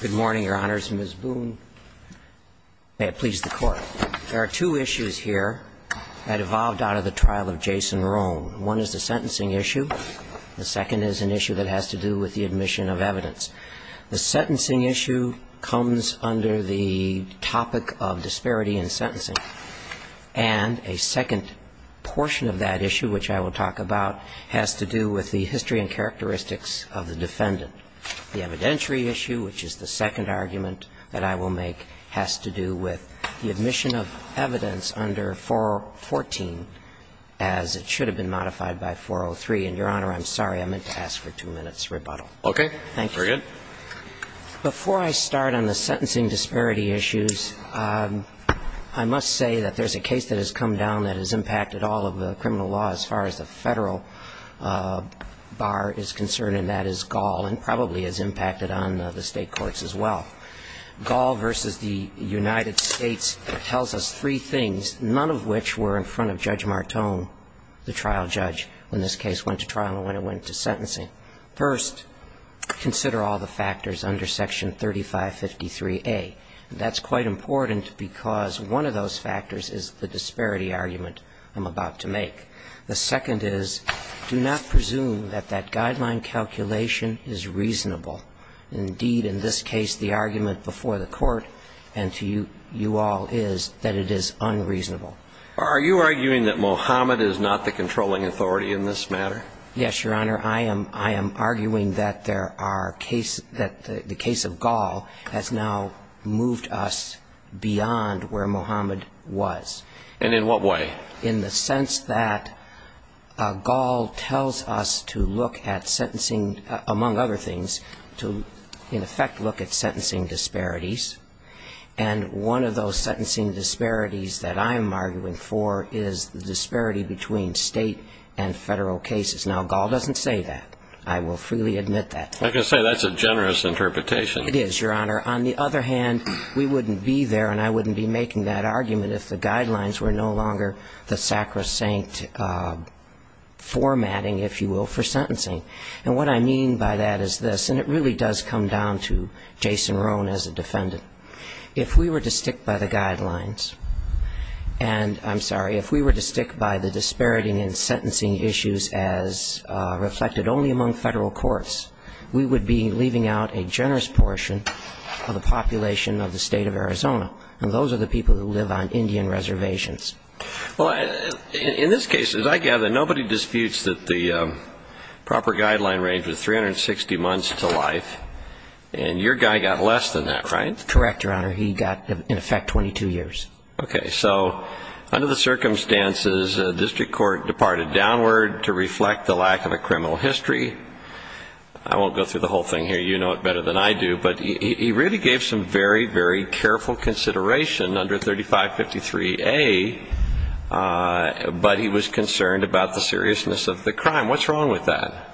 Good morning, Your Honors. Ms. Boone, may it please the Court. There are two issues here that evolved out of the trial of Jason Roan. One is the sentencing issue. The second is an issue that has to do with the admission of evidence. The sentencing issue comes under the topic of disparity in sentencing. And a second portion of that issue, which I will talk about, has to do with the history and characteristics of the defendant. The evidentiary issue, which is the second argument that I will make, has to do with the admission of evidence under 414, as it should have been modified by 403. And, Your Honor, I'm sorry. I meant to ask for two minutes' rebuttal. Okay. Thank you. Very good. Before I start on the sentencing disparity issues, I must say that there's a case that has come down that has impacted all of the criminal law as far as the Federal Bar is concerned, and that is Gaul, and probably has impacted on the State courts as well. Gaul v. the United States tells us three things, none of which were in front of Judge Martone, the trial judge, when this case went to trial and when it went to sentencing. First, consider all the factors under Section 3553A. That's quite important because one of those factors is the disparity argument I'm about to make. The second is, do not presume that that guideline calculation is reasonable. Indeed, in this case, the argument before the Court and to you all is that it is unreasonable. Are you arguing that Mohammed is not the controlling authority in this matter? Yes, Your Honor. I am arguing that there are cases that the case of Gaul has now moved us beyond where Mohammed was. And in what way? In the sense that Gaul tells us to look at sentencing, among other things, to in effect look at sentencing disparities, and one of those sentencing disparities that I'm arguing for is the disparity between State and Federal cases. Now, Gaul doesn't say that. I will freely admit that. I can say that's a generous interpretation. It is, Your Honor. On the other hand, we wouldn't be there and I wouldn't be making that argument if the guidelines were no longer the sacrosanct formatting, if you will, for sentencing. And what I mean by that is this, and it really does come down to Jason Roan as a defendant. If we were to stick by the guidelines, and I'm sorry, if we were to stick by the disparity in sentencing issues as reflected only among Federal courts, we would be leaving out a generous portion of the population of the State of Arizona, and those are the people who live on Indian reservations. Well, in this case, as I gather, nobody disputes that the proper guideline range was 360 months to life, and your guy got less than that, right? Correct, Your Honor. He got, in effect, 22 years. Okay. So under the circumstances, a district court departed downward to reflect the lack of a criminal history. I won't go through the whole thing here. You know it better than I do, but he really gave some very, very careful consideration under 3553A, but he was concerned about the seriousness of the crime. What's wrong with that?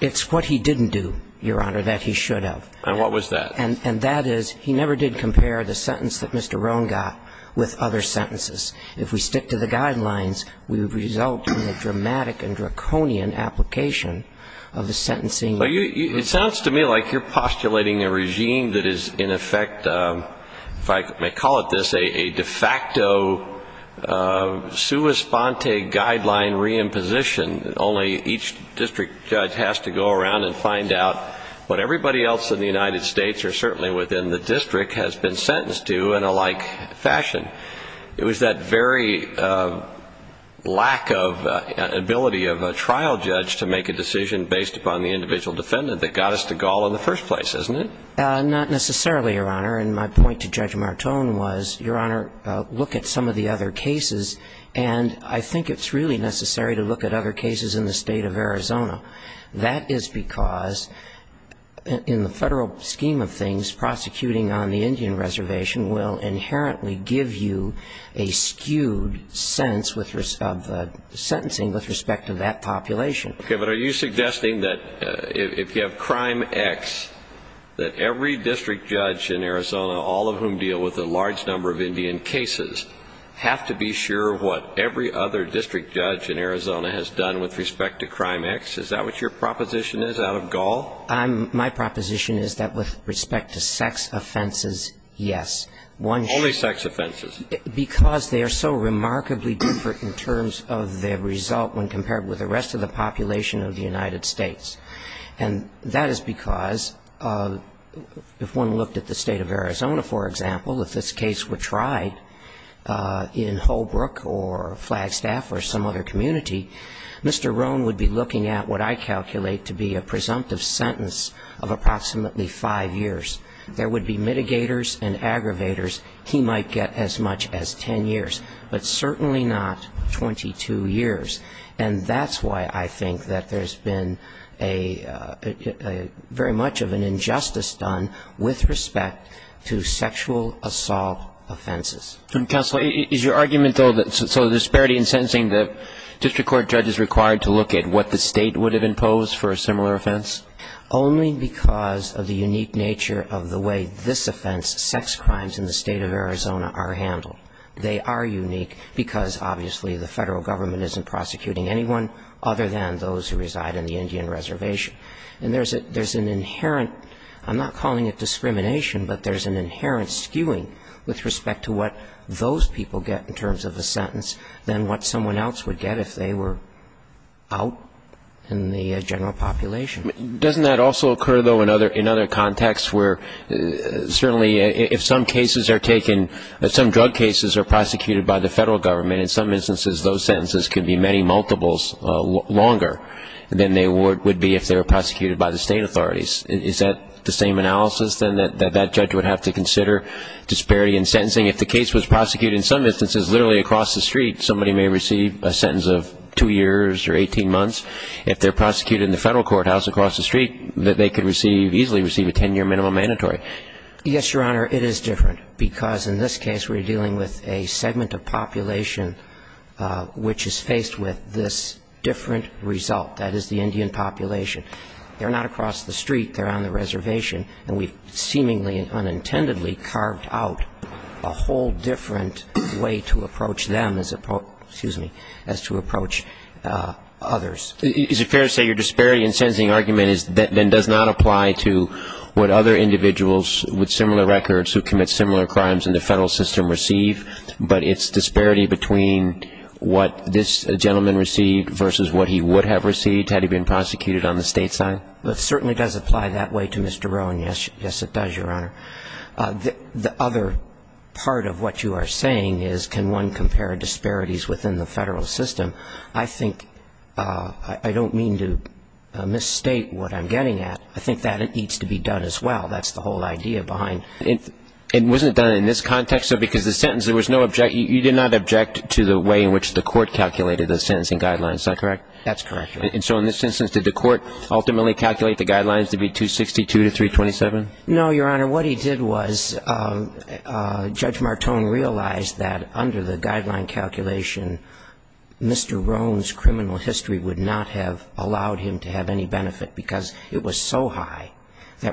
It's what he didn't do, Your Honor, that he should have. And what was that? And that is, he never did compare the sentence that Mr. Roan got with other sentences. If we stick to the guidelines, we would result in a dramatic and draconian application of the sentencing. It sounds to me like you're postulating a regime that is, in effect, if I may call it this, a de facto sua sponte guideline reimposition, only each district judge has to go around and find out what everybody else in the United States, or certainly within the district, has been That very lack of ability of a trial judge to make a decision based upon the individual defendant that got us to Gall in the first place, isn't it? Not necessarily, Your Honor. And my point to Judge Martone was, Your Honor, look at some of the other cases, and I think it's really necessary to look at other cases in the state of Arizona. That is because in the federal scheme of things, prosecuting on the Indian population is a very skewed sense of sentencing with respect to that population. Okay, but are you suggesting that if you have crime X, that every district judge in Arizona, all of whom deal with a large number of Indian cases, have to be sure of what every other district judge in Arizona has done with respect to crime X? Is that what your proposition is out of Gall? My proposition is that with respect to sex offenses, yes. Only sex offenses? Because they are so remarkably different in terms of their result when compared with the rest of the population of the United States. And that is because if one looked at the state of Arizona, for example, if this case were tried in Holbrook or Flagstaff or some other community, Mr. Roan would be looking at what I calculate to be a presumptive sentence of approximately five years. There would be mitigators and aggravators he might get as much as ten years, but certainly not 22 years. And that's why I think that there's been a very much of an injustice done with respect to sexual assault offenses. Counsel, is your argument, though, that so disparity in sentencing, the district court judge is required to look at what the state would have imposed for a similar offense? Only because of the unique nature of the way this offense, sex crimes in the state of Arizona, are handled. They are unique because, obviously, the federal government isn't prosecuting anyone other than those who reside in the Indian reservation. And there's an inherent, I'm not calling it discrimination, but there's an inherent skewing with respect to what those people get in terms of a sentence than what someone else would get if they were out in the general population. Doesn't that also occur, though, in other contexts where certainly if some cases are taken, some drug cases are prosecuted by the federal government, in some instances those sentences can be many multiples longer than they would be if they were prosecuted by the state authorities. Is that the same analysis, then, that that judge would have to consider disparity in sentencing? If the case was prosecuted in some instances literally across the street, somebody may receive a sentence of two years or 18 months. If they're prosecuted in the federal courthouse across the street, they could easily receive a ten-year minimum mandatory. Yes, Your Honor, it is different, because in this case we're dealing with a segment of population which is faced with this different result. That is the Indian population. They're not across the street. They're on the reservation. And we've seemingly and unintendedly carved out a whole different way to approach them as opposed to, excuse me, as to approach others. Is it fair to say your disparity in sentencing argument then does not apply to what other individuals with similar records who commit similar crimes in the federal system receive, but it's disparity between what this gentleman received versus what he would have received had he been prosecuted on the state side? It certainly does apply that way to Mr. Rowan, yes. Yes, it does, Your Honor. The other part of what you are saying is can one compare disparities within the federal system. I think I don't mean to misstate what I'm getting at. I think that needs to be done as well. That's the whole idea behind it. And wasn't it done in this context? So because the sentence, there was no objection, you did not object to the way in which the court calculated the sentencing guidelines, is that correct? That's correct, Your Honor. And so in this instance, did the court ultimately calculate the guidelines to be 262 to 327? No, Your Honor. What he did was Judge Martone realized that under the guideline calculation, Mr. Rowan's criminal history would not have allowed him to have any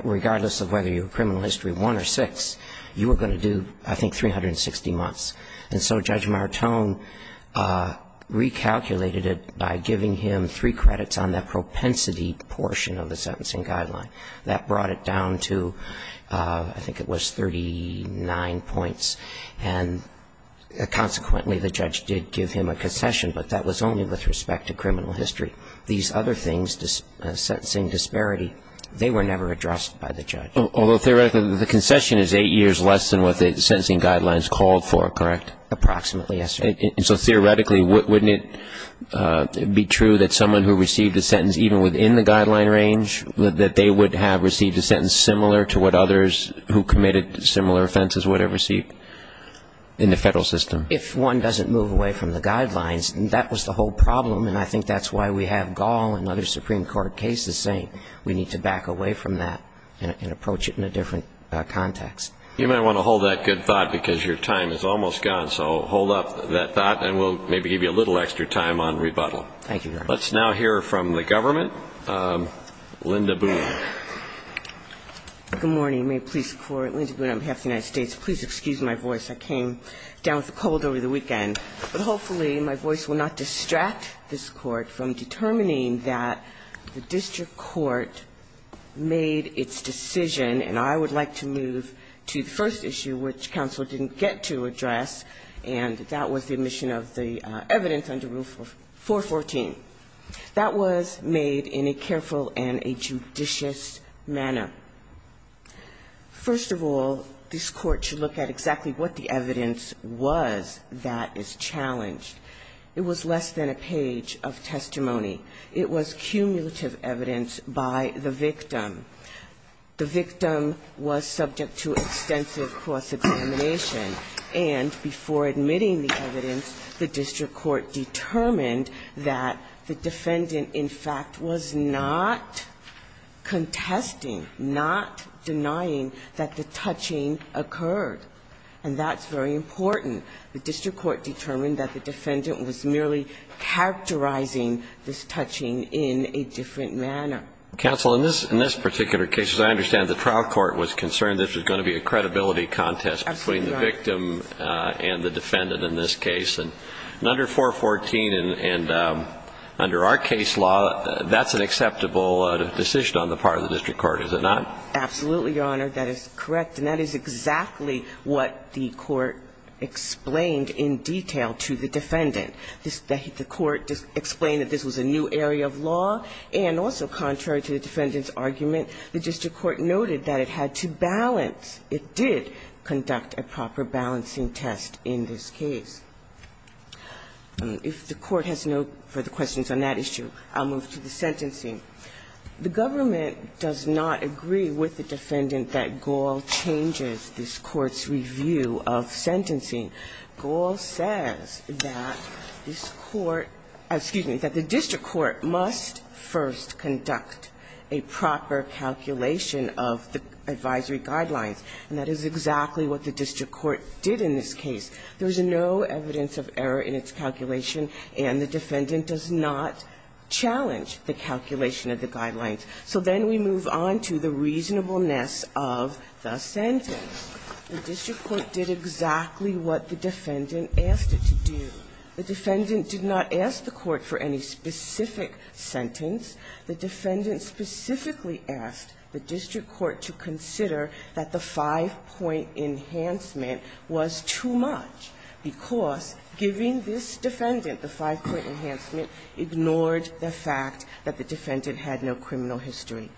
regardless of whether your criminal history, one or six, you were going to do, I think, 360 months. And so Judge Martone recalculated it by giving him three credits on that propensity portion of the sentencing guideline. That brought it down to, I think it was 39 points. And consequently, the judge did give him a concession, but that was only with respect to criminal history. These other things, sentencing disparity, they were never addressed by the judge. Although theoretically, the concession is eight years less than what the sentencing guidelines called for, correct? Approximately, yes, Your Honor. And so theoretically, wouldn't it be true that someone who received a sentence even within the guideline range, that they would have received a sentence similar to what others who committed similar offenses would have received in the federal system? If one doesn't move away from the guidelines, that was the whole problem, and I think we have Gall and other Supreme Court cases saying we need to back away from that and approach it in a different context. You might want to hold that good thought, because your time is almost gone. So hold up that thought, and we'll maybe give you a little extra time on rebuttal. Thank you, Your Honor. Let's now hear from the government. Linda Boone. Good morning. May it please the Court, Linda Boone on behalf of the United States. Please excuse my voice. I came down with a cold over the weekend. But hopefully my voice will not distract this Court from determining that the district court made its decision, and I would like to move to the first issue, which counsel didn't get to address, and that was the omission of the evidence under Rule 414. That was made in a careful and a judicious manner. First of all, this Court should look at exactly what the evidence was that is challenged. It was less than a page of testimony. It was cumulative evidence by the victim. The victim was subject to extensive cross-examination. And before admitting the evidence, the district court determined that the defendant, in fact, was not contesting, not denying that the touching occurred. And that's very important. The district court determined that the defendant was merely characterizing this touching in a different manner. Counsel, in this particular case, as I understand, the trial court was concerned this was going to be a credibility contest between the victim and the defendant in this case. And under 414 and under our case law, that's an acceptable decision on the part of the district court, is it not? Absolutely, Your Honor. That is correct. And that is exactly what the court explained in detail to the defendant. The court explained that this was a new area of law. And also contrary to the defendant's argument, the district court noted that it had to balance. It did conduct a proper balancing test in this case. If the Court has no further questions on that issue, I'll move to the sentencing. The government does not agree with the defendant that Gaul changes this Court's review of sentencing. Gaul says that this Court, excuse me, that the district court must first conduct a proper calculation of the advisory guidelines. And that is exactly what the district court did in this case. There is no evidence of error in its calculation, and the defendant does not challenge the calculation of the guidelines. So then we move on to the reasonableness of the sentence. The district court did exactly what the defendant asked it to do. The defendant did not ask the court for any specific sentence. The defendant specifically asked the district court to consider that the five-point enhancement was too much, because giving this defendant the five-point enhancement ignored the fact that the defendant had no criminal history.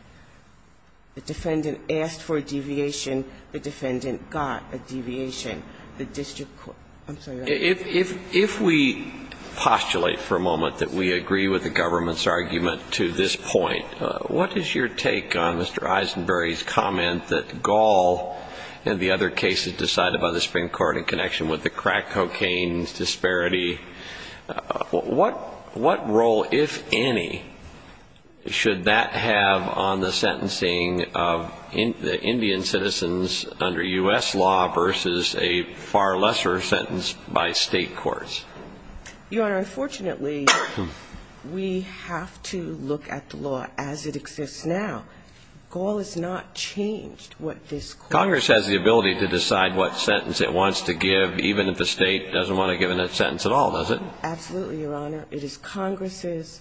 The defendant asked for a deviation. The defendant got a deviation. The district court – I'm sorry. If we postulate for a moment that we agree with the government's argument to this point, what is your take on Mr. Eisenberry's comment that Gaul and the other cases decided by the Supreme Court in connection with the crack cocaine disparity, what role, if any, should that have on the sentencing of Indian citizens under U.S. law versus a far lesser sentence by State courts? Your Honor, unfortunately, we have to look at the law as it exists now. Congress has the ability to decide what sentence it wants to give, even if the State doesn't want to give it a sentence at all, does it? Absolutely, Your Honor. It is Congress's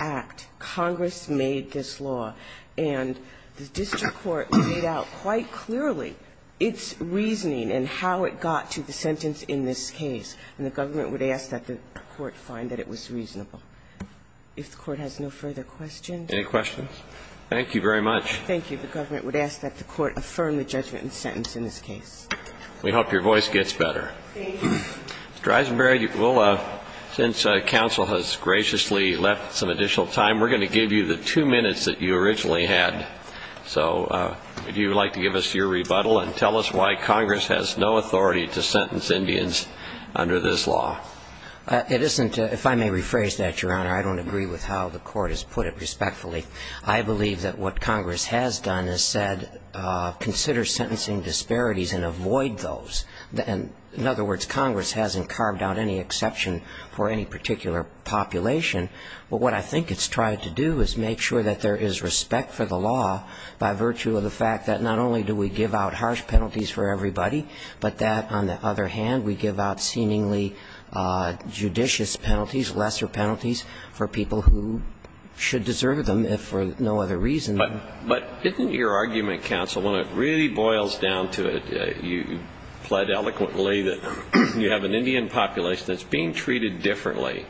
act. Congress made this law. And the district court laid out quite clearly its reasoning and how it got to the sentence in this case. And the government would ask that the court find that it was reasonable. If the court has no further questions. Any questions? Thank you very much. Thank you. Mr. Eisenberry, since counsel has graciously left some additional time, we're going to give you the two minutes that you originally had. So would you like to give us your rebuttal and tell us why Congress has no authority to sentence Indians under this law? It isn't ‑‑ if I may rephrase that, Your Honor, I don't agree with how the court has put it respectfully. I believe that what Congress has done is put it respectfully. What Congress has done is said consider sentencing disparities and avoid those. In other words, Congress hasn't carved out any exception for any particular population. But what I think it's tried to do is make sure that there is respect for the law by virtue of the fact that not only do we give out harsh penalties for everybody, but that, on the other hand, we give out seemingly judicious penalties, lesser When it really boils down to it, you pled eloquently that you have an Indian population that's being treated differently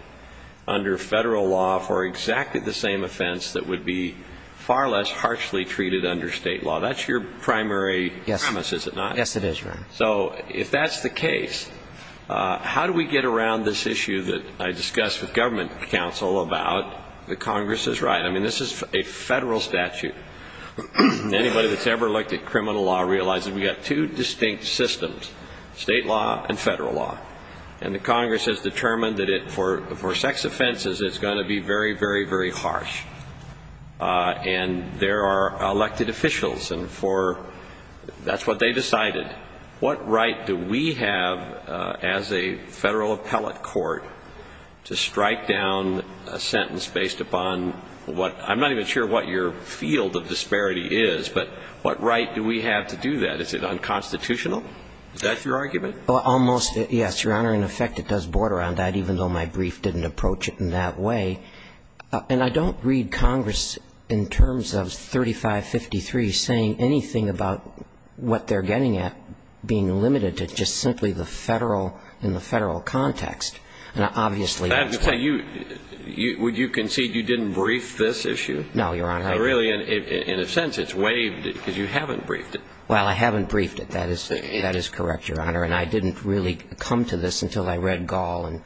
under federal law for exactly the same offense that would be far less harshly treated under state law. That's your primary premise, is it not? Yes, it is, Your Honor. So if that's the case, how do we get around this issue that I discussed with government counsel about that Congress is right? I mean, this is a federal statute. Anybody that's ever looked at criminal law realizes we've got two distinct systems, state law and federal law. And the Congress has determined that for sex offenses it's going to be very, very, very harsh. And there are elected officials, and that's what they decided. What right do we have as a federal appellate court to strike down a sentence based upon what – I'm not even sure what your field of disparity is, but what right do we have to do that? Is it unconstitutional? Is that your argument? Almost, yes, Your Honor. In effect, it does border on that, even though my brief didn't approach it in that way. And I don't read Congress in terms of 3553 saying anything about what they're getting at being limited to just simply the federal – in the federal context. Would you concede you didn't brief this issue? No, Your Honor. Really, in a sense, it's waived because you haven't briefed it. Well, I haven't briefed it. That is correct, Your Honor. And I didn't really come to this until I read Gall.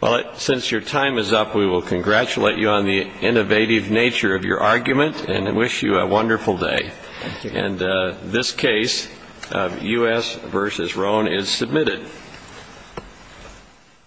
Well, since your time is up, we will congratulate you on the innovative nature of your argument and wish you a wonderful day. Thank you. And this case, U.S. v. Roan, is submitted.